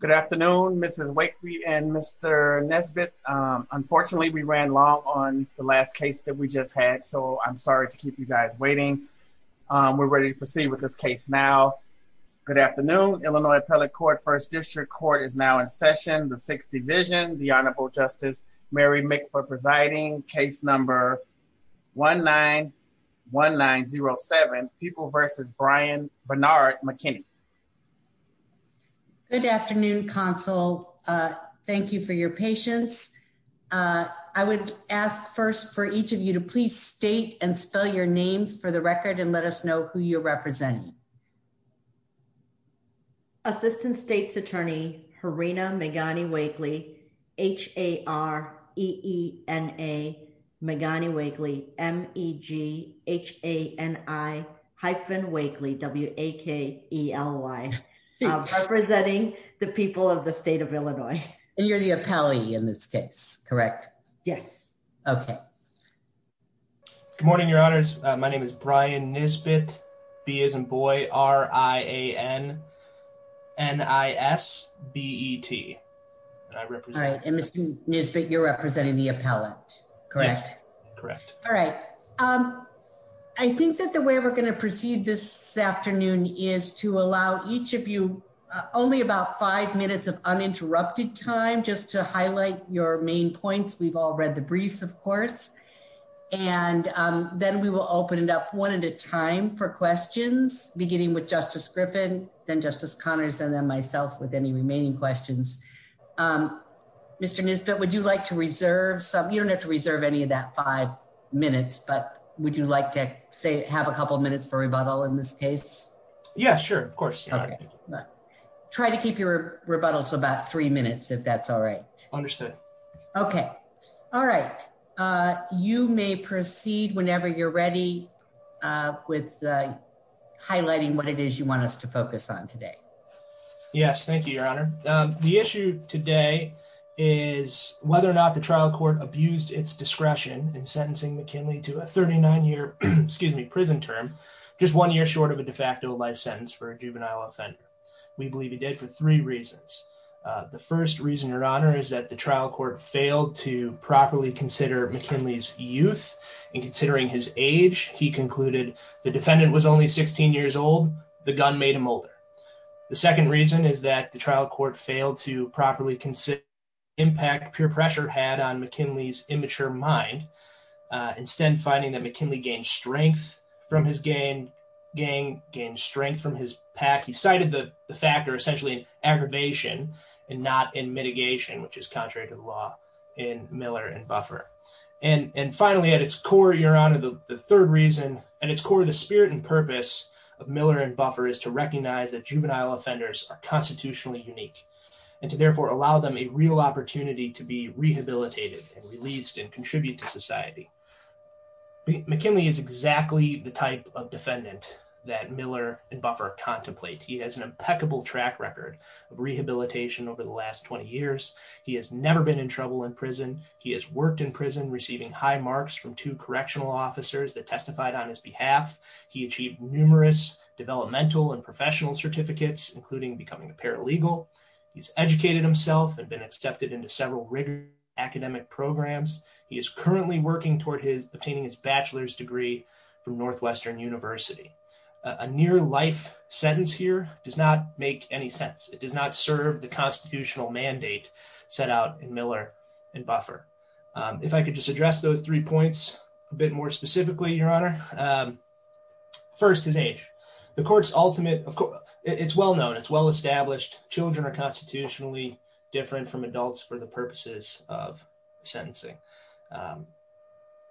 Good afternoon, Mrs. Wakefield and Mr. Nesbitt. Unfortunately, we ran long on the last case that we just had, so I'm sorry to keep you guys waiting. We're ready to proceed with this case now. Good afternoon, Illinois Appellate Court, First District Court is now in session. The Sixth Division, the Honorable Justice Mary Mick for presiding, case number 1-9-1-9-0-7, People v. Brian Bernard McKinney. Good afternoon, counsel. Thank you for your patience. I would ask first for each of you to please state and spell your names for the record and let us know who you're representing. Assistant States Attorney Harina Megani-Wakely, H-A-R-E-E-N-A Megani-Wakely, M-E-G-H-A-N-I-Wakely, W-A-K-E-L-Y, representing the people of the state of Illinois. And you're the appellee in this case, correct? Yes. Okay. Good morning, Your Honors. My name is Brian Nesbitt, B as in boy, R-I-A-N-N-I-S-B-E-T. And Mr. Nesbitt, you're representing the appellate, correct? Correct. All right. I think that the way we're going to proceed this afternoon is to allow each of you only about five minutes of uninterrupted time just to highlight your main points. We've all read the briefs, of course. And then we will open it up one at a time for questions beginning with Justice Griffin, then Justice Connors, and then myself with any remaining questions. Mr. Nesbitt, would you like to reserve some, you don't have to reserve any of that five minutes, but would you like to say have a couple minutes for rebuttal in this case? Yeah, sure. Of course. Okay. Try to keep your rebuttal to about three minutes if that's all right. Understood. Okay. All right. You may proceed whenever you're ready with highlighting what it is. So, the issue today is whether or not the trial court abused its discretion in sentencing McKinley to a 39-year, excuse me, prison term, just one year short of a de facto life sentence for a juvenile offender. We believe he did for three reasons. The first reason, Your Honor, is that the trial court failed to properly consider McKinley's youth. And considering his age, he concluded the defendant was only 16 years old, the gun made him older. The second reason is that trial court failed to properly consider the impact peer pressure had on McKinley's immature mind. Instead, finding that McKinley gained strength from his gang, gained strength from his pack. He cited the factor essentially in aggravation and not in mitigation, which is contrary to the law in Miller and Buffer. And finally, at its core, Your Honor, the third reason, at its core, the spirit and purpose of Miller and Buffer is to recognize that juvenile offenders are constitutionally unique and to therefore allow them a real opportunity to be rehabilitated and released and contribute to society. McKinley is exactly the type of defendant that Miller and Buffer contemplate. He has an impeccable track record of rehabilitation over the last 20 years. He has never been in trouble in prison. He has worked in prison, receiving high marks from two correctional officers that testified on his behalf. He achieved numerous developmental and professional certificates, including becoming a paralegal. He's educated himself and been accepted into several rigorous academic programs. He is currently working toward his obtaining his bachelor's degree from Northwestern University. A near-life sentence here does not make any sense. It does not serve the constitutional mandate set out in Miller and Buffer. If I could just address those three points a bit more specifically, Your Honor. First, his age. The court's ultimate, it's well-known, it's well-established. Children are constitutionally different from adults for the purposes of sentencing.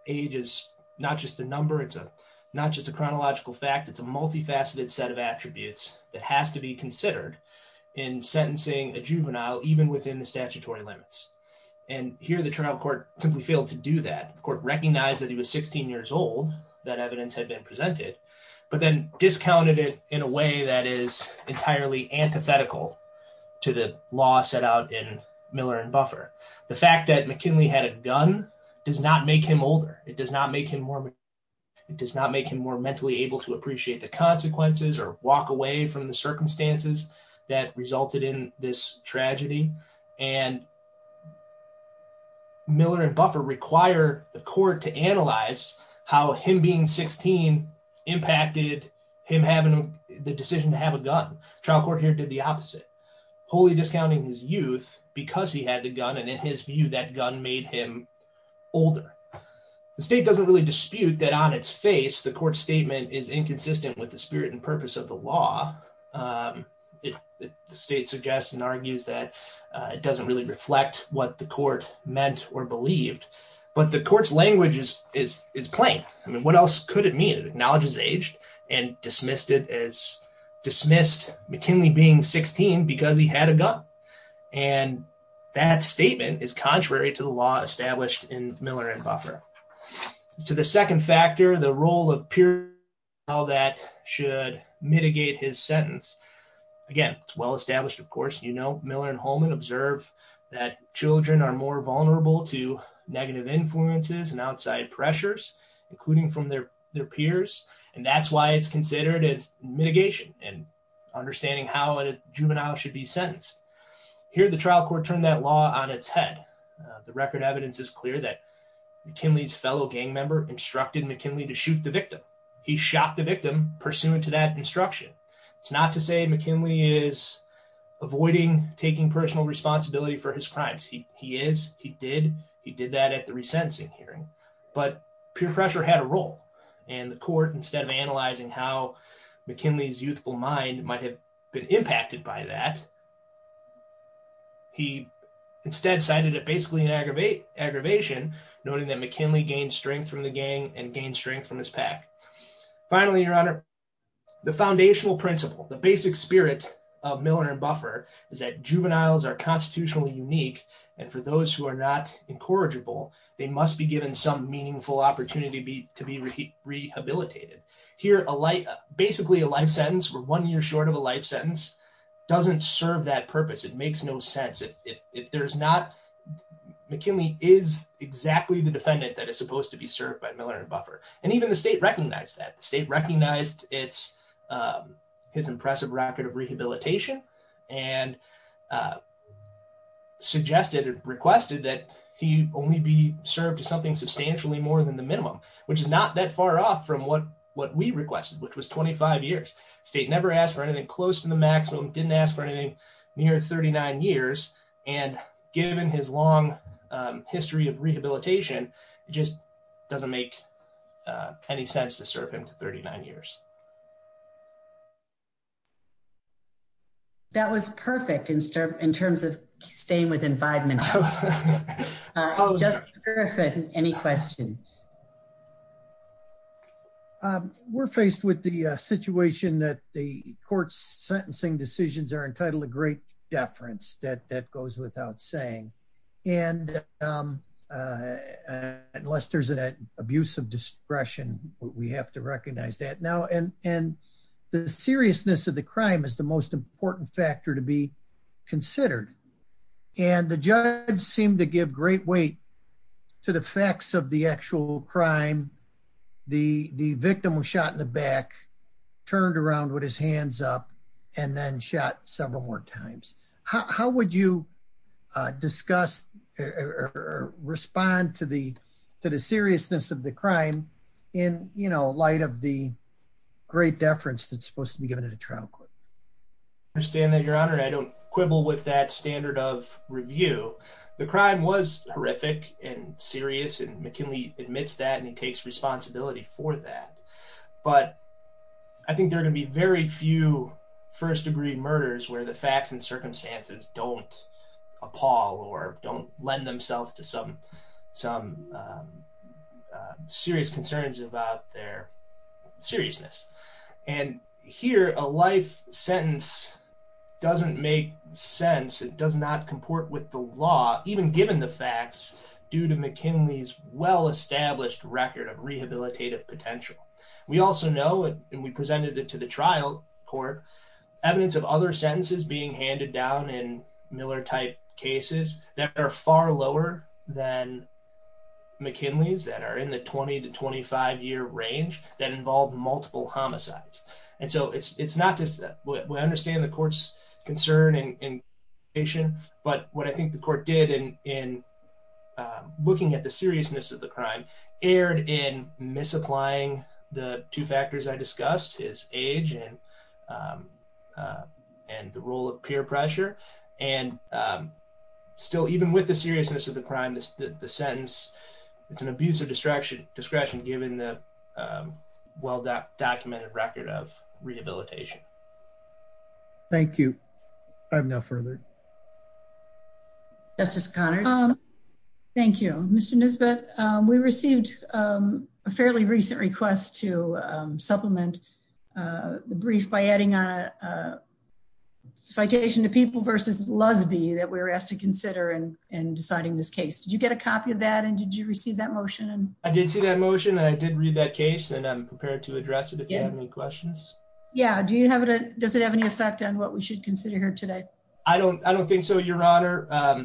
Age is not just a number. It's not just a chronological fact. It's a multifaceted set of attributes that has to be considered in sentencing a juvenile, even within the statutory limits. And here, the trial court simply failed to do that. The court recognized that he was 16 years old, that evidence had been presented, but then discounted it in a way that is entirely antithetical to the law set out in Miller and Buffer. The fact that McKinley had a gun does not make him older. It does not make him more mature. It does not make him more mentally able to appreciate the consequences or walk away from the circumstances that resulted in this tragedy. And Miller and Buffer require the court to analyze how him being 16 impacted him having the decision to have a gun. Trial court here did the opposite, wholly discounting his youth because he had the gun. And in his view, that gun made him older. The state doesn't really dispute that on its face, the court's statement is inconsistent with the spirit and purpose of the law. The state suggests and argues that it doesn't really reflect what the court meant or believed. But the court's language is plain. I mean, what else could it mean? It acknowledges age and dismissed it as dismissed McKinley being 16 because he had a gun. And that statement is all that should mitigate his sentence. Again, it's well established, of course, you know, Miller and Holman observe that children are more vulnerable to negative influences and outside pressures, including from their their peers. And that's why it's considered as mitigation and understanding how a juvenile should be sentenced. Here, the trial court turned that law on its head. The record evidence is clear that McKinley's fellow gang member instructed McKinley to shoot the victim. He shot the victim pursuant to that instruction. It's not to say McKinley is avoiding taking personal responsibility for his crimes. He is. He did. He did that at the resentencing hearing. But peer pressure had a role. And the court instead of analyzing how McKinley's youthful mind might have been impacted by that, he instead cited it basically an aggravate aggravation, noting that McKinley gained strength from the gang and gained strength from his pack. Finally, Your Honor, the foundational principle, the basic spirit of Miller and Buffer is that juveniles are constitutionally unique. And for those who are not incorrigible, they must be given some meaningful opportunity to be rehabilitated. Here, a light, basically a life sentence for one year short of a life sentence doesn't serve that purpose. It makes no sense if there's not. McKinley is exactly the defendant that is supposed to be served by Miller and Buffer. And even the state recognized that the state recognized it's his impressive record of rehabilitation and suggested or requested that he only be served to something substantially more than the minimum, which is not that far off from what what we requested, which was twenty five years. State never asked for anything close to the maximum, didn't ask for anything near thirty nine years. And given his long history of rehabilitation, it just doesn't make any sense to serve him to thirty nine years. That was perfect in terms of staying within five minutes. Any question? We're faced with the situation that the court's sentencing decisions are entitled to great deference. That goes without saying. And unless there's an abuse of discretion, we have to recognize that now. And the seriousness of the crime is the most important factor to be considered. And the judge seemed to give great weight to the facts of the actual crime. The victim was shot in the back, turned around with his hands up and then shot several more times. How would you discuss or respond to the to the seriousness of the crime in light of the great deference that's supposed to be given at a trial court? I understand that, your honor. I don't quibble with that standard of review. The crime was horrific and serious. And McKinley admits that and he takes responsibility for that. But I think there are going to be very few first degree murders where the facts and circumstances don't appall or don't lend themselves to some serious concerns about their seriousness. And here, a life sentence doesn't make sense. It does not comport with the law, even given the facts due to McKinley's well-established record of rehabilitative potential. We also know, and we presented it to the trial court, evidence of other sentences being handed down in Miller type cases that are far lower than McKinley's that are in the 20 to 25 year range that involve multiple homicides. And so it's not just that we understand the court's concern and patient, but what I think the court did in looking at the seriousness of the crime erred in misapplying the two factors I discussed, his age and the role of peer pressure. And still, even with the seriousness of the crime, the sentence, it's an abuse of discretion, discretion, given the well documented record of rehabilitation. Thank you. I have no further. Justice Connors. Thank you, Mr. Nusbitt. We received a fairly recent request to supplement the brief by adding on a citation to people versus lesbian that we were asked to consider in deciding this case. Did you get a copy of that? And did you receive that motion? I did see that motion and I did read that case and I'm prepared to address it if you have any questions. Yeah. Do you have it? Does it have any effect on what we should consider here today? I don't. I don't think so, Your Honor.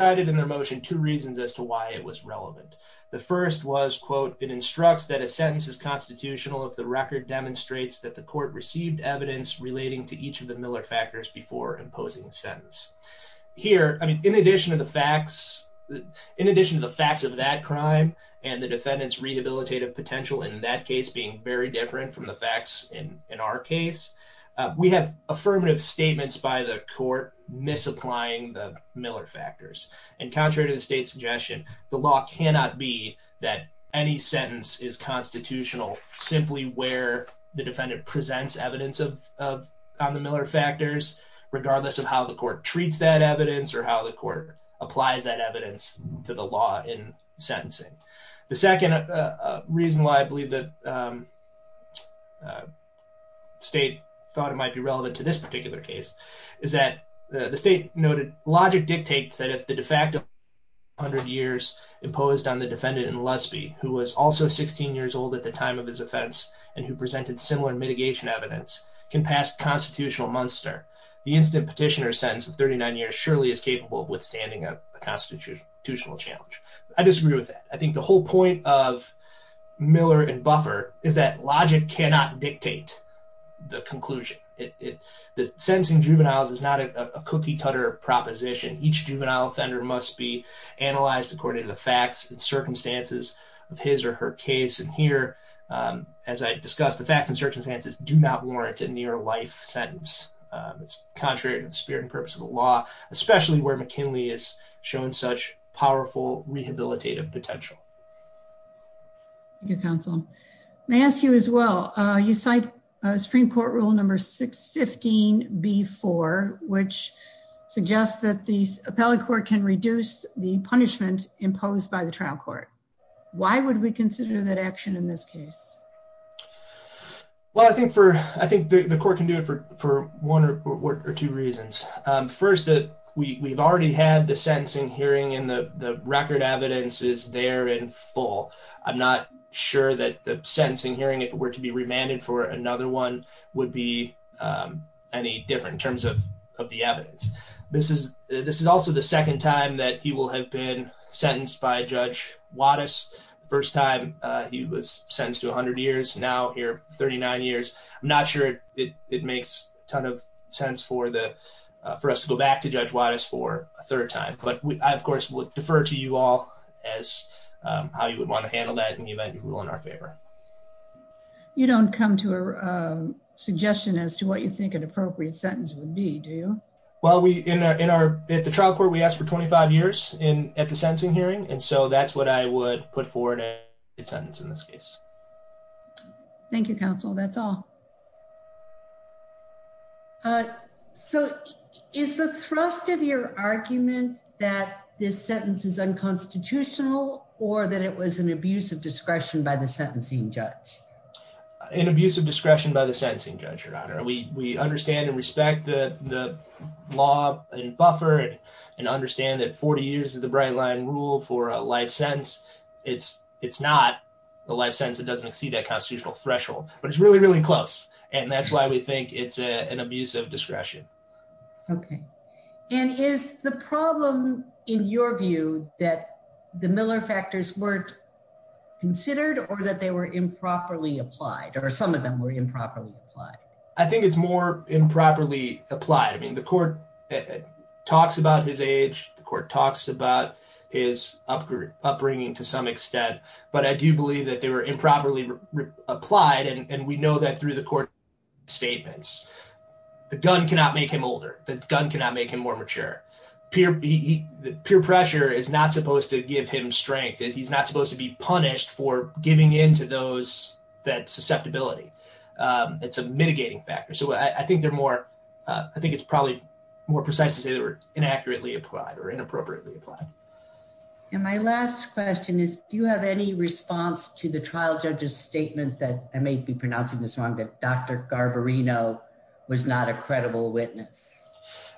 I did in their motion two reasons as to why it was relevant. The first was, quote, it instructs that a sentence is constitutional if the record demonstrates that the court received evidence relating to each of the Miller factors before imposing a sentence here. I mean, in addition to the facts, in addition to the facts of that crime and the defendant's rehabilitative potential in that case being very different from the facts in our case, we have affirmative statements by the court misapplying the Miller factors. And contrary to the state's suggestion, the law cannot be that any sentence is constitutional simply where the defendant presents evidence of on the Miller factors, regardless of how the court treats that evidence or how the court applies that evidence to the law in sentencing. The second reason why I believe that state thought it might be relevant to this particular case is that the state noted logic dictates that if the de facto 100 years imposed on the defendant in Lesby, who was also 16 years old at the time of his offense and who presented similar mitigation evidence, can pass constitutional Munster. The incident petitioner sentence of 39 years surely is capable of withstanding a constitutional challenge. I disagree with that. I think the whole point of Miller and Buffer is that logic cannot dictate the conclusion. The sentencing juveniles is not a cookie-cutter proposition. Each juvenile offender must be analyzed according to the facts and circumstances of his or her case. And here, as I discussed, the facts and circumstances do not warrant a near-life sentence. It's contrary to the spirit and purpose of the law, especially where McKinley has shown such powerful rehabilitative potential. Thank you, counsel. May I ask you as well, you cite Supreme Court rule number 615b-4, which suggests that the appellate court can reduce the punishment imposed by the trial court. Why would we consider that action in this case? Well, I think the court can do it for one or two reasons. First, we've already had the sentencing hearing and the record evidence is there in full. I'm not sure that the sentencing hearing, if it were to be remanded for another one, would be any different in terms of the evidence. This is also the second time that he will have been sentenced by Judge Wattis. The first time he was sentenced to 100 years. Now here, 39 years. I'm not sure it makes a ton of sense for us to go back to Judge Wattis for a third time. But I, of course, would defer to you all as how you would want to handle that in the event you rule in our favor. You don't come to a suggestion as to what you think an appropriate sentence would be, do you? Well, at the trial court, we asked for 25 years at the sentence in this case. Thank you, counsel. That's all. So is the thrust of your argument that this sentence is unconstitutional or that it was an abuse of discretion by the sentencing judge? An abuse of discretion by the sentencing judge, Your Honor. We understand and respect the law and buffer and understand that 40 years of the life sentence, it doesn't exceed that constitutional threshold, but it's really, really close. And that's why we think it's an abuse of discretion. Okay. And is the problem in your view that the Miller factors weren't considered or that they were improperly applied or some of them were improperly applied? I think it's more improperly applied. I mean, the court talks about his age. The court talks about his upbringing to some extent, but I do believe that they were improperly applied. And we know that through the court statements, the gun cannot make him older. The gun cannot make him more mature. Peer pressure is not supposed to give him strength. He's not supposed to be punished for giving into that susceptibility. It's a mitigating factor. So I think it's probably more precise to say they were inaccurately applied or inappropriately applied. And my last question is, do you have any response to the trial judge's statement that I may be pronouncing this wrong, but Dr. Garbarino was not a credible witness?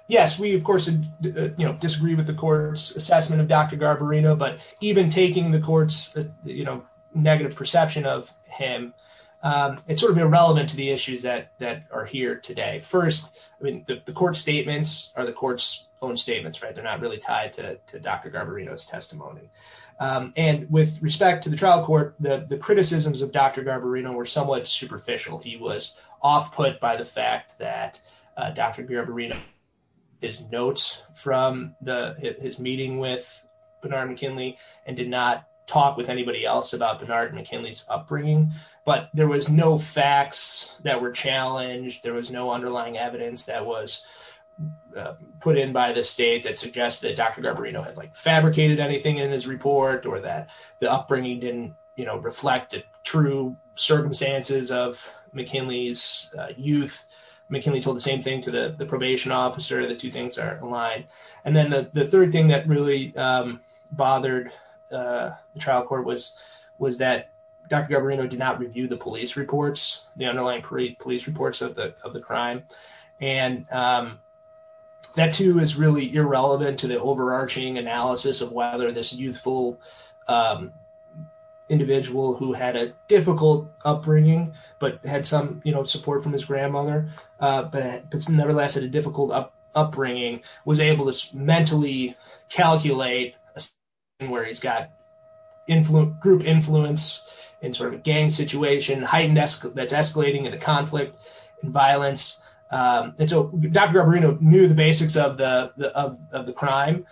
Yes. We, of course, disagree with the court's assessment of Dr. Garbarino, but even taking the court's negative perception of him, it's sort of irrelevant to the issues that are here today. First, I mean, the court statements are the court's own statements, right? They're not really to Dr. Garbarino's testimony. And with respect to the trial court, the criticisms of Dr. Garbarino were somewhat superficial. He was off-put by the fact that Dr. Garbarino is notes from his meeting with Bernard McKinley and did not talk with anybody else about Bernard McKinley's upbringing. But there was no facts that were challenged. There was no underlying evidence that was fabricated anything in his report or that the upbringing didn't reflect the true circumstances of McKinley's youth. McKinley told the same thing to the probation officer. The two things are aligned. And then the third thing that really bothered the trial court was that Dr. Garbarino did not review the police reports, the underlying police reports of the crime. And that too is really irrelevant to the overarching analysis of whether this youthful individual who had a difficult upbringing, but had some support from his grandmother, but nevertheless had a difficult upbringing, was able to mentally calculate a situation where he's got group influence in sort of a gang situation that's escalating into conflict and violence. And so Dr. Garbarino knew the basics of the crime.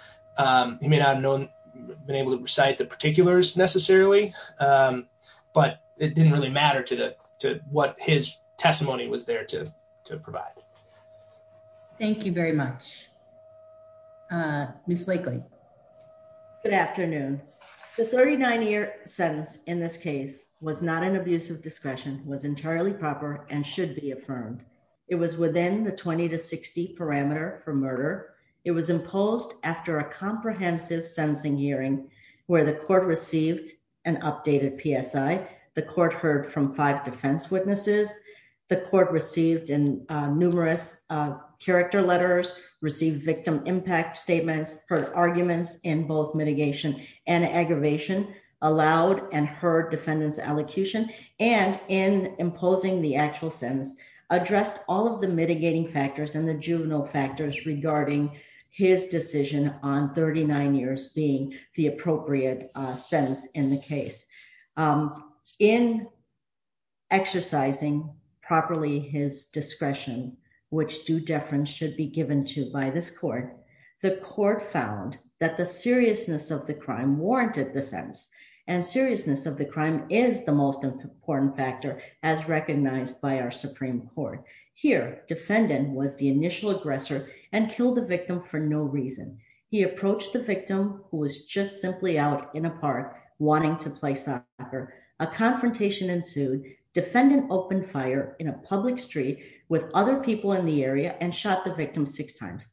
He may not have known been able to recite the particulars necessarily, but it didn't really matter to what his testimony was there to provide. Thank you very much. Ms. Wakely. Good afternoon. The 39-year sentence in this case was not an murder. It was imposed after a comprehensive sentencing hearing where the court received an updated PSI. The court heard from five defense witnesses. The court received in numerous character letters, received victim impact statements, heard arguments in both mitigation and aggravation, allowed and heard defendants' allocution, and in imposing the actual sentence, addressed all of the mitigating factors and the juvenile factors regarding his decision on 39 years being the appropriate sentence in the case. In exercising properly his discretion, which due deference should be given to by this court, the court found that the seriousness of the crime warranted the sentence. And seriousness of the crime is the most important factor as recognized by our Supreme Court. Here, defendant was the initial aggressor and killed the victim for no reason. He approached the victim who was just simply out in a park wanting to play soccer. A confrontation ensued. Defendant opened fire in a public street with other people in the area and shot the victim six times.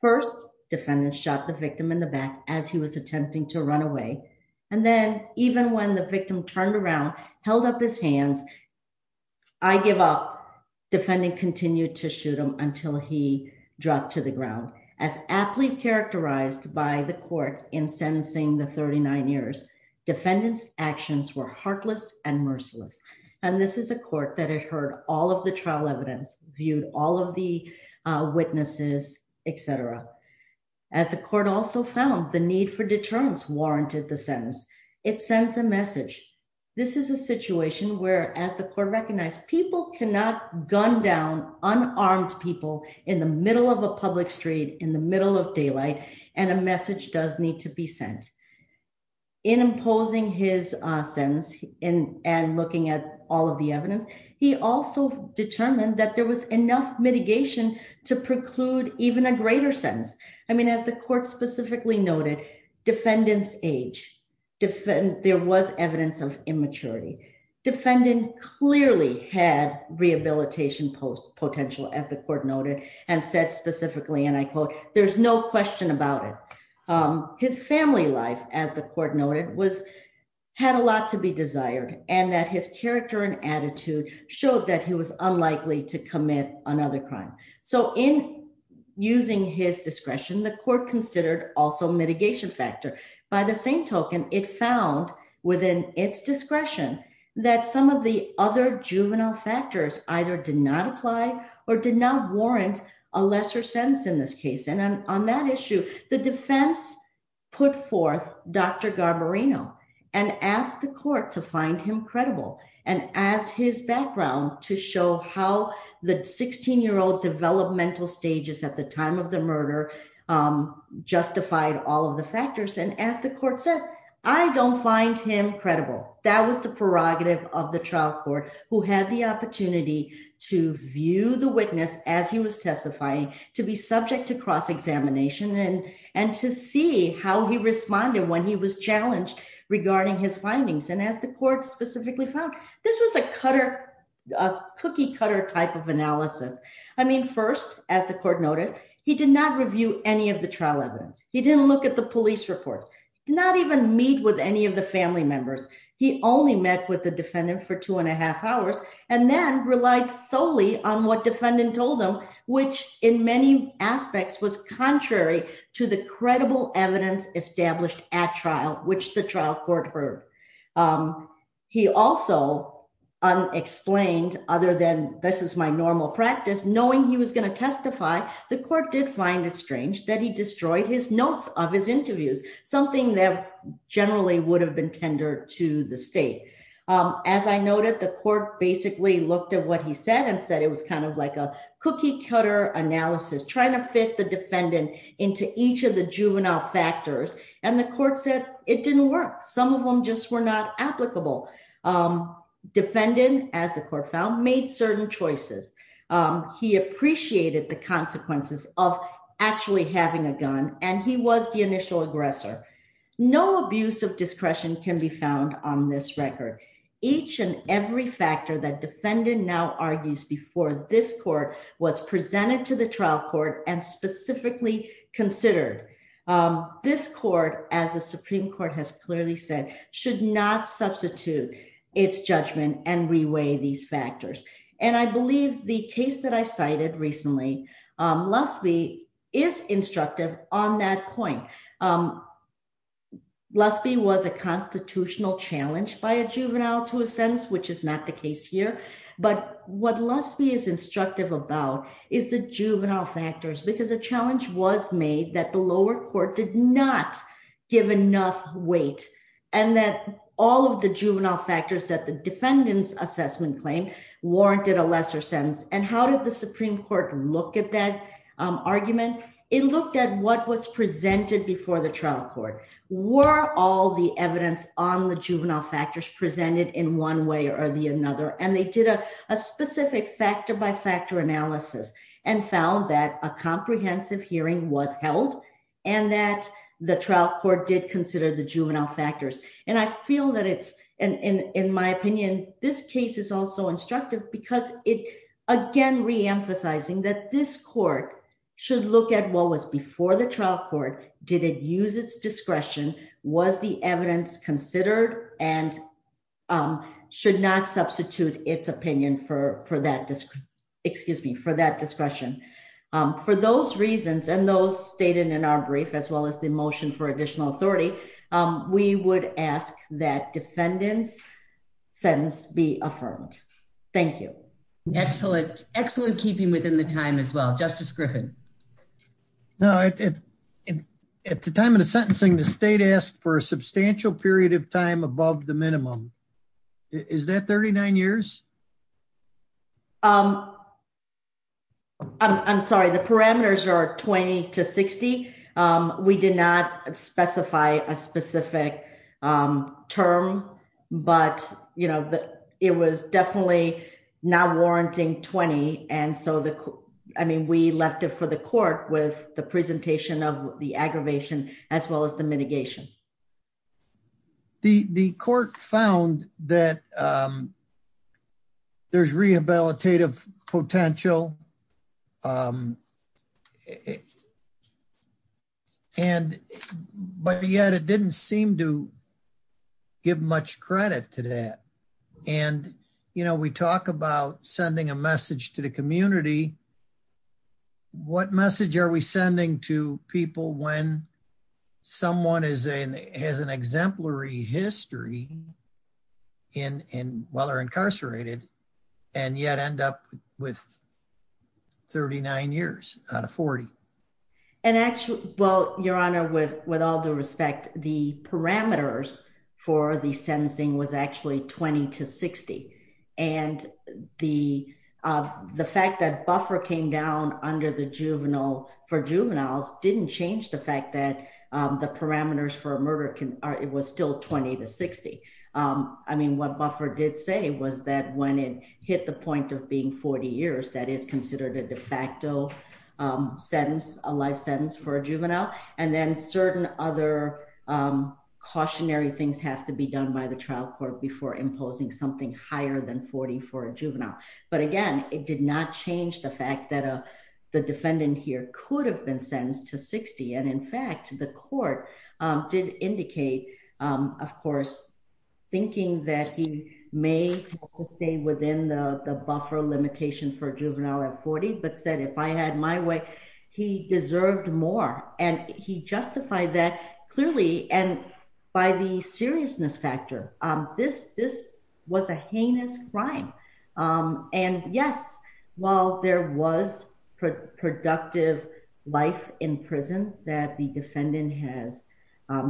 First, defendant shot the victim in the back as he was attempting to I give up. Defendant continued to shoot him until he dropped to the ground. As aptly characterized by the court in sentencing the 39 years, defendant's actions were heartless and merciless. And this is a court that had heard all of the trial evidence, viewed all of the witnesses, etc. As the court also found the need for deterrence warranted the sentence. It sends a situation where, as the court recognized, people cannot gun down unarmed people in the middle of a public street, in the middle of daylight, and a message does need to be sent. In imposing his sentence in and looking at all of the evidence, he also determined that there was enough mitigation to preclude even a greater sentence. I mean, as the court specifically noted, defendant's age, there was evidence of immaturity. Defendant clearly had rehabilitation potential, as the court noted, and said specifically, and I quote, there's no question about it. His family life, as the court noted, had a lot to be desired, and that his character and attitude showed that he was unlikely to commit another crime. So in using his discretion, the court considered also mitigation factor. By the same token, it found within its discretion, that some of the other juvenile factors either did not apply, or did not warrant a lesser sentence in this case. And on that issue, the defense put forth Dr. Garbarino, and asked the court to find him credible, and as his background to show how the 16 year old developmental stages at the time of the murder, justified all of the factors, and as the court said, I don't find him credible. That was the prerogative of the trial court, who had the opportunity to view the witness as he was testifying, to be subject to cross-examination, and to see how he responded when he was challenged regarding his findings. And as the court specifically found, this was a cutter, a cookie cutter type of analysis. I mean, first, as the court noted, he did not review any of the trial evidence. He didn't look at the police reports, not even meet with any of the family members. He only met with the defendant for two and a half hours, and then relied solely on what defendant told him, which in many aspects was contrary to the credible evidence established at trial, which the trial court heard. He also unexplained, other than this is my normal practice, knowing he was going to testify, the court did find it strange that he destroyed his notes of his interviews, something that generally would have been tender to the state. As I noted, the court basically looked at what he said, and said it was kind of like a cookie cutter analysis, trying to into each of the juvenile factors, and the court said it didn't work. Some of them just were not applicable. Defendant, as the court found, made certain choices. He appreciated the consequences of actually having a gun, and he was the initial aggressor. No abuse of discretion can be found on this record. Each and every factor that defendant now argues before this court was presented to the trial court and specifically considered, this court, as the Supreme Court has clearly said, should not substitute its judgment and reweigh these factors. And I believe the case that I cited recently, Lusby is instructive on that point. Lusby was a constitutional challenge by a juvenile to a sentence, which is not the case here, but what Lusby is instructive about is the juvenile factors, because a challenge was made that the lower court did not give enough weight, and that all of the juvenile factors that the defendant's assessment claim warranted a lesser sentence. And how did the Supreme Court look at that argument? It looked at what was presented before the trial court. Were all the evidence on the juvenile factors presented in one another? And they did a specific factor-by-factor analysis and found that a comprehensive hearing was held, and that the trial court did consider the juvenile factors. And I feel that it's, in my opinion, this case is also instructive because it, again, reemphasizing that this court should look at what was before the trial court. Did it use its discretion? Was the evidence considered? And should not substitute its opinion for that discretion. For those reasons, and those stated in our brief, as well as the motion for additional authority, we would ask that defendant's sentence be affirmed. Thank you. Excellent. Excellent keeping within the time as well. Justice Griffin. No, at the time of the sentencing, the state asked for a substantial period of time above the minimum. Is that 39 years? I'm sorry, the parameters are 20 to 60. We did not specify a specific term, but it was definitely not warranting 20. And so we left it for the court with the presentation of the aggravation, as well as the mitigation. The court found that there's rehabilitative potential. But yet, it didn't seem to give much credit to that. And, you know, we talk about sending a message to the community. What message are we sending to people when someone has an exemplary history while they're incarcerated, and yet end up with 39 years out of 40? And actually, well, Your Honor, with all due respect, the parameters for the sentencing was actually 20 to 60. And the fact that buffer came down for juveniles didn't change the fact that the parameters for a murder, it was still 20 to 60. I mean, what buffer did say was that when it hit the point of being 40 years, that is considered a de facto sentence, a life sentence for a juvenile. And then certain other cautionary things have to be done by the trial court before imposing something higher than 40 for a juvenile. But again, it did not change the fact that the defendant here could have been sentenced to 60. And in fact, the court did indicate, of course, thinking that he may stay within the buffer limitation for juvenile at 40. But said, if I had my way, he deserved more. And he justified that clearly. And by the seriousness factor, this this was a heinous crime. And yes, while there was productive life in prison that the defendant has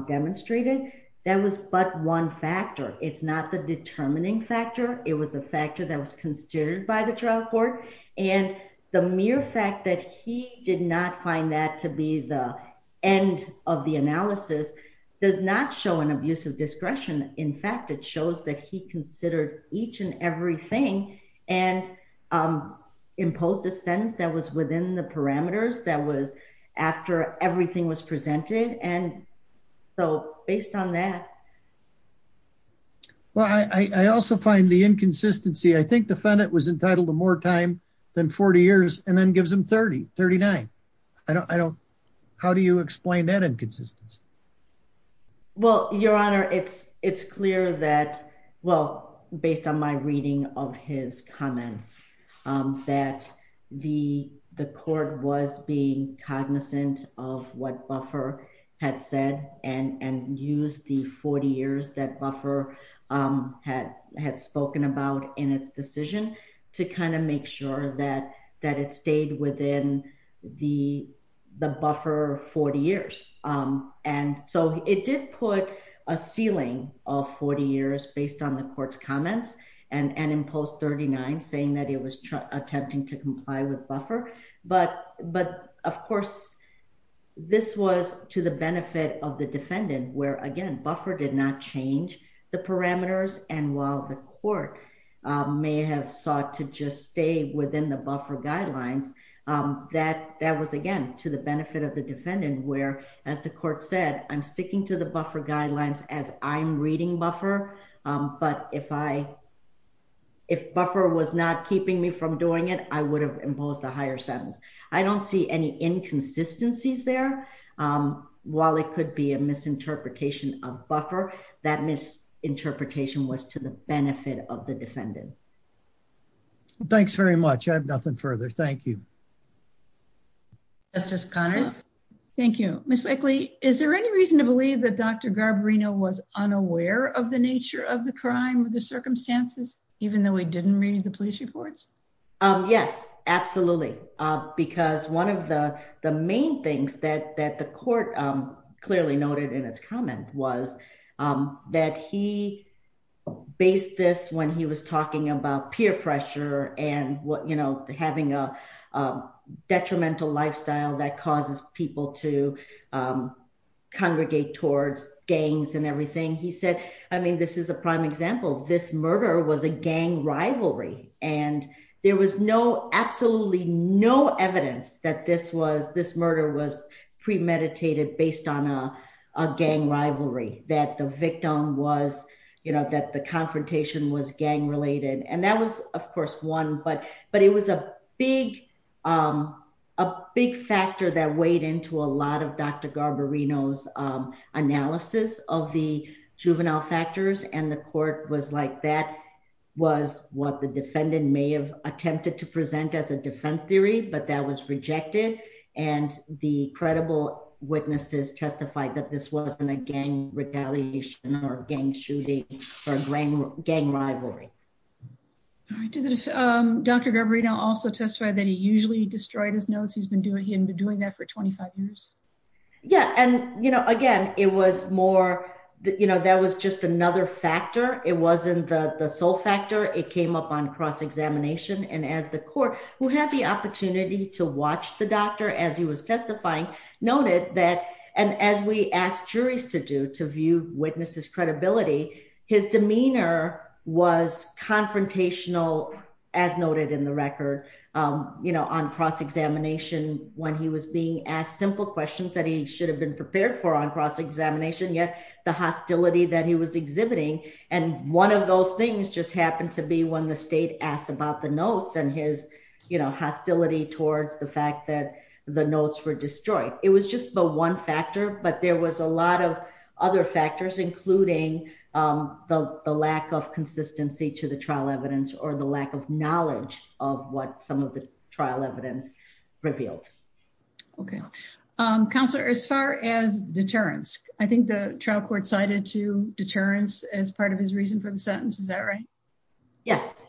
demonstrated, that was but one factor. It's not the determining factor. It was a factor that was considered by the trial court. And the mere fact that he did not find that to be the end of the analysis does not show an abuse of discretion. In fact, it shows that he considered each and every thing and impose the sentence that was within the parameters that was after everything was presented. And so based on that, well, I also find the inconsistency, I think defendant was entitled to more time than 40 years, and then gives him 3039. I don't, how do you explain that inconsistency? Well, Your Honor, it's, it's clear that, well, based on my reading of his comments, that the the court was being cognizant of what buffer had said, and and use the 40 years that buffer had had spoken about in its decision to kind of make sure that that it stayed within the the buffer 40 years. And so it did put a ceiling of 40 years based on the court's comments, and and impose 39 saying that it was attempting to comply with buffer. But But of course, this was to the benefit of the defendant, where again, buffer did not change the parameters. And while the court may have sought to just stay within the buffer guidelines, that that was, again, to the benefit of the defendant, where, as the court said, I'm sticking to the buffer guidelines as I'm reading buffer. But if I, if buffer was not keeping me from doing it, I would have imposed a higher sentence. I don't see any inconsistencies there. While it could be a misinterpretation of buffer, that misinterpretation was to the benefit of the defendant. Thanks very much. I have nothing further. Thank you. Justice Connors. Thank you, Miss Wickley. Is there any reason to believe that Dr. Garbarino was unaware of the nature of the crime or the circumstances, even though we didn't read the police reports? Yes, absolutely. Because one of the main things that that the court clearly noted in its comment was that he based this when he was talking about peer pressure and what you know, having a detrimental lifestyle that causes people to congregate towards gangs and everything. He said, I mean, this is a prime example, this murder was a gang rivalry. And there was no absolutely no evidence that this was this murder was premeditated based on a gang rivalry that the victim was, you know, that the confrontation was gang related. And that was, of course, one, but but it was a big, a big factor that weighed into a lot of Dr. Garbarino's analysis of the juvenile factors. And the court was like that was what the defendant may have attempted to present as a defense theory, but that was rejected. And the credible witnesses testified that this wasn't a gang retaliation or gang shooting, or gang gang rivalry. Dr. Garbarino also testified that he usually destroyed his notes. He's been doing he Yeah, and you know, again, it was more, you know, that was just another factor. It wasn't the the sole factor, it came up on cross examination. And as the court who had the opportunity to watch the doctor as he was testifying, noted that, and as we asked juries to do to view witnesses credibility, his demeanor was confrontational, as noted in the record, you know, on cross examination, when he was being asked simple questions that he should have been prepared for on cross examination, yet the hostility that he was exhibiting. And one of those things just happened to be when the state asked about the notes and his, you know, hostility towards the fact that the notes were destroyed. It was just the one factor, but there was a lot of other factors, including the lack of consistency to the trial evidence or the lack of knowledge of what some of the trial evidence revealed. Okay, counselor, as far as deterrence, I think the trial court cited to deterrence as part of his reason for the sentence. Is that right? Yes.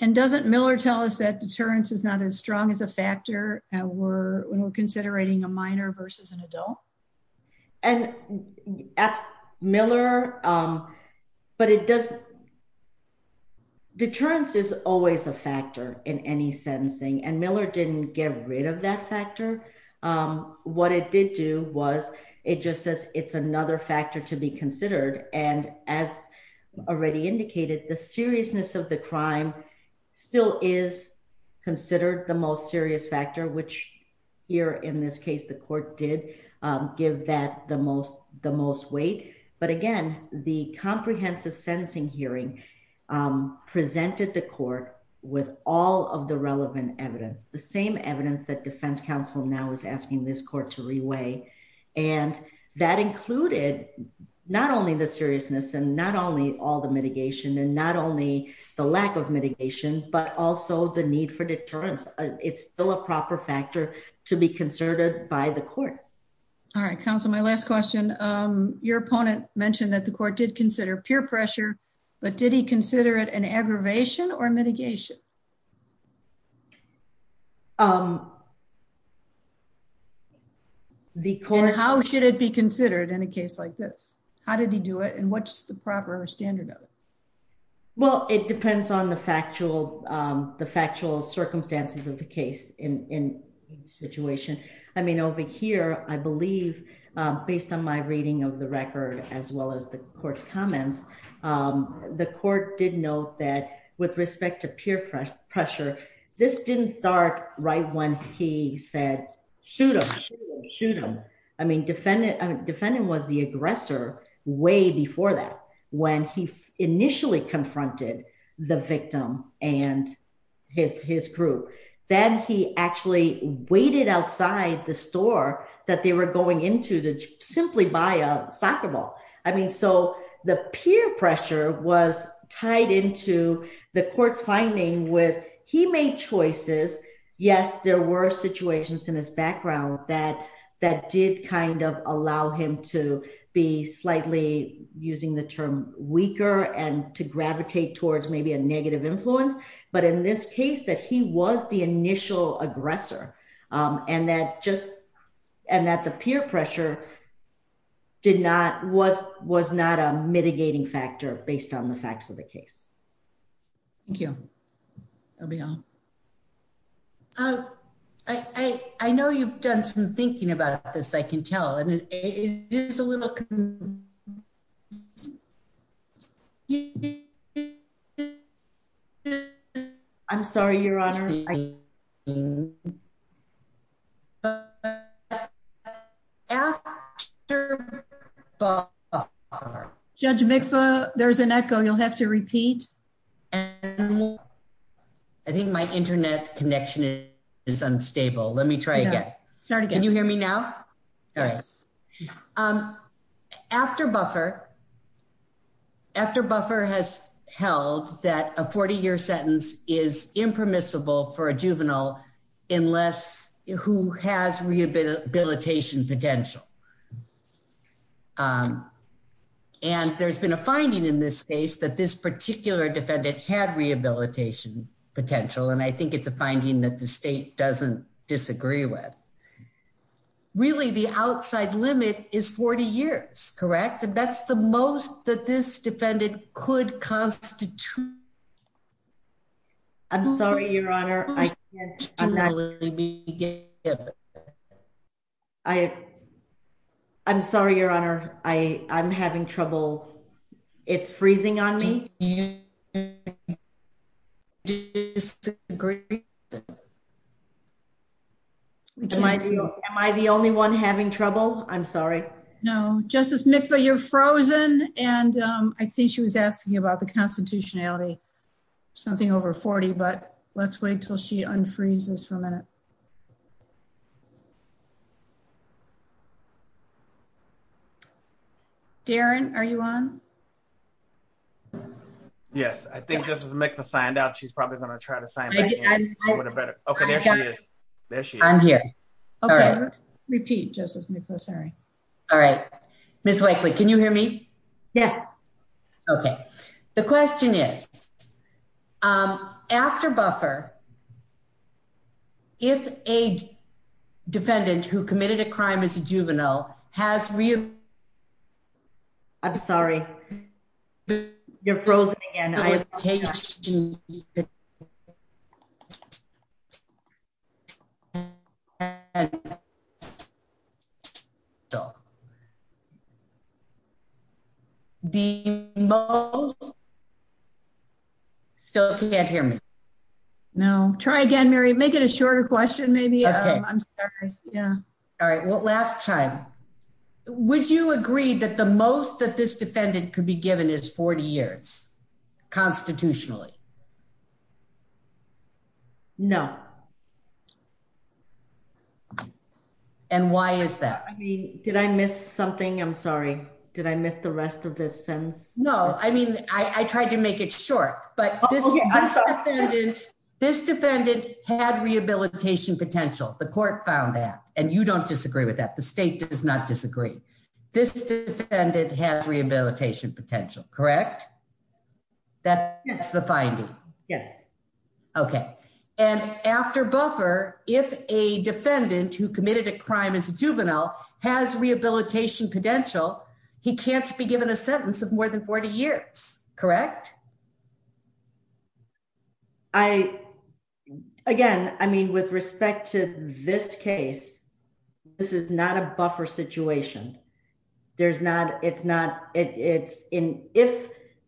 And doesn't Miller tell us that deterrence is not as strong as a factor that we're when we're considering a minor versus an adult. And at Miller, but it does. deterrence is always a factor in any sentencing, and Miller didn't get rid of that factor. What it did do was, it just says it's another factor to be considered. And as already indicated, the seriousness of the crime still is considered the most serious factor, which here in this case, the court did give that the most the most weight. But again, the comprehensive sentencing hearing presented the court with all of the relevant evidence, the same evidence that defense counsel now is asking this court to reweigh. And that included not only the seriousness and not only all the mitigation and not only the lack of mitigation, but also the need for deterrence. It's still a proper factor to be considered by the court. All right, counsel, my last question. Your opponent mentioned that the court did consider peer pressure. But did he consider it an aggravation or mitigation? The court, how should it be considered in a case like this? How did he do it? And what's proper standard? Well, it depends on the factual, the factual circumstances of the case in situation. I mean, over here, I believe, based on my reading of the record, as well as the court's comments, the court did note that with respect to peer pressure, this didn't start right when he said, shoot him, shoot him. I mean, defendant defendant was the aggressor way before that, when he initially confronted the victim and his his crew, then he actually waited outside the store that they were going into to simply buy a soccer ball. I mean, so the peer pressure was tied into the court's finding with he made choices. Yes, there were situations in his background that that did kind of allow him to be slightly using the term weaker and to gravitate towards maybe a negative influence. But in this case, that he was the mitigating factor based on the facts of the case. Thank you. Oh, yeah. Oh, I know you've done some thinking about this, I can tell it is a little I think my internet connection is unstable. Let me try again. Sorry. Can you hear me now? Yes. After buffer, after buffer has held that a 40 year sentence is impermissible for a juvenile, unless who has rehabilitation potential. And there's been a finding in this case that this particular defendant had rehabilitation potential. And I think it's a finding that the state doesn't disagree with. Really, the outside limit is 40 years, correct? And that's the most that this defendant could constitute. I'm sorry, Your Honor, I'm not gonna be I'm sorry, Your Honor, I I'm having trouble. It's freezing on me. Am I the only one having trouble? I'm sorry. No, Justice Mikva, you're frozen. And I think she was asking you about the constitutionality. Something over 40. But let's wait till she unfreezes for a minute. Darren, are you on? Yes, I think Justice Mikva signed out. She's I'm here. All right. Repeat, Justice Mikva. Sorry. All right. Ms. Wakely, can you hear me? Yes. Okay. The question is, after buffer, if a defendant who committed a crime as a juvenile has real I'm sorry, you're frozen again. Still can't hear me. No. Try again, Mary. Make it a shorter question. Maybe. I'm sorry. Yeah. All right. Well, last time, would you agree that the most that this defendant could be given is 40 years constitutionally? No. And why is that? I mean, did I miss something? I'm sorry. Did I miss the rest of this sense? No. I mean, I tried to make it short, but this defendant had rehabilitation potential. The court found that. And you don't disagree with that. The state does not disagree. This defendant has rehabilitation potential, correct? That's the finding. Yes. Okay. And after buffer, if a defendant who committed a crime as a juvenile has rehabilitation potential, he can't be given a case. This is not a buffer situation. If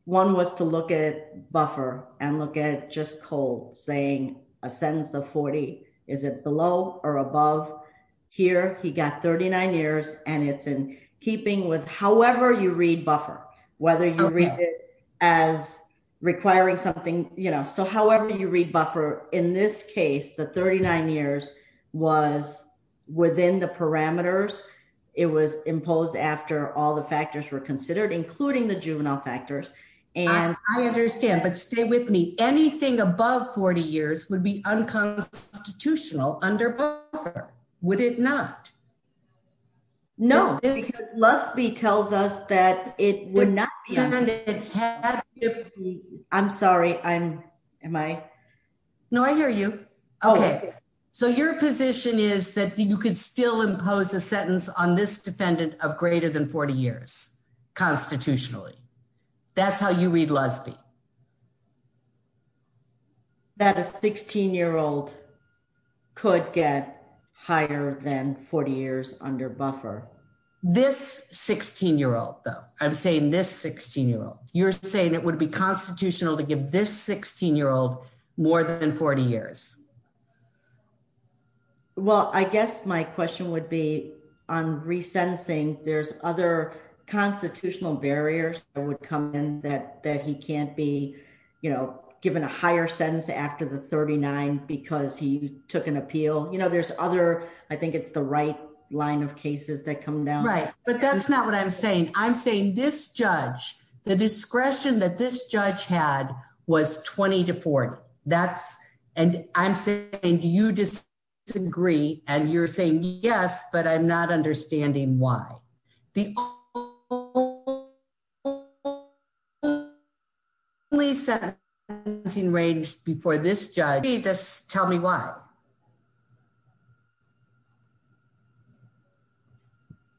one was to look at buffer and look at just cold saying a sentence of 40, is it below or above here? He got 39 years. And it's in keeping with however you read buffer, whether you read it as requiring something. So however you read buffer, in this within the parameters, it was imposed after all the factors were considered, including the juvenile factors. And I understand, but stay with me. Anything above 40 years would be unconstitutional under buffer. Would it not? No. Because Lusby tells us that it would not. It had to be. I'm sorry. Am I? No, I hear you. Okay. So your position is that you could still impose a sentence on this defendant of greater than 40 years constitutionally. That's how you read Lusby. That a 16 year old could get higher than 40 years under buffer. This 16 year old though, I'm saying this 16 year old, you're saying it would be constitutional to give this 16 year old more than 40 years. Well, I guess my question would be on resentencing. There's other constitutional barriers that would come in that, that he can't be, you know, given a higher sentence after the 39, because he took an appeal. You know, there's other, I think it's the right line of cases that come down. Right. But that's not what I'm saying. I'm saying this judge, the discretion that this judge had was 20 to 40. That's, and I'm saying, do you disagree? And you're saying yes, but I'm not understanding why. The only sentencing range before this judge. Tell me why.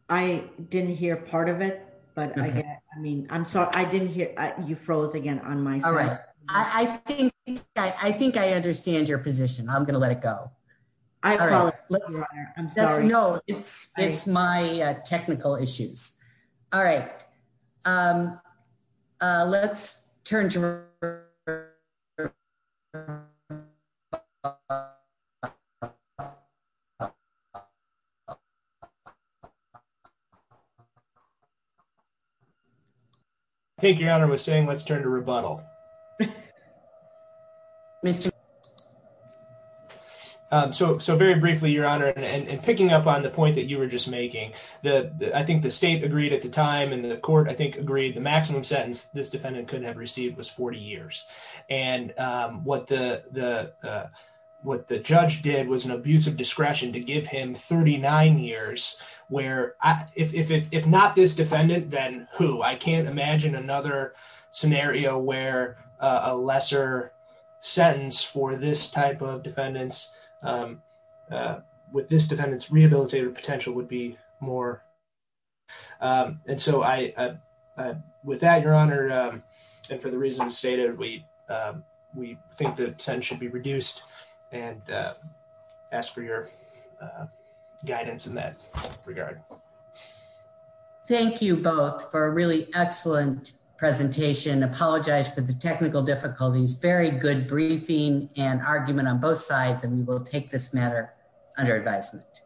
I didn't hear part of it, but I mean, I'm sorry. I didn't hear you froze again on my side. All right. I think, I think I understand your position. I'm going to let it go. I'm sorry. No, it's, it's my technical issues. All right. Um, uh, let's turn to. I think your honor was saying, let's turn to rebuttal. Um, so, so very briefly, your honor, and picking up on the point that you were just making the, I think the state agreed at the time and the court, I think agreed the maximum sentence this defendant could have received was 40 years. And, um, what the, the, uh, what the judge did was an abuse of discretion to give him 39 years where I, if, if, if not this defendant, then who, I can't imagine another scenario where a lesser sentence for this type of defendants, um, uh, with this defendant's rehabilitative potential would be more. Um, and so I, uh, uh, with that, your honor, um, and for the reasons stated, we, um, we think the sentence should be reduced and, ask for your, uh, guidance in that regard. Thank you both for a really excellent presentation. Apologize for the technical difficulties, very good briefing and argument on both sides. And we will take this matter under advisement.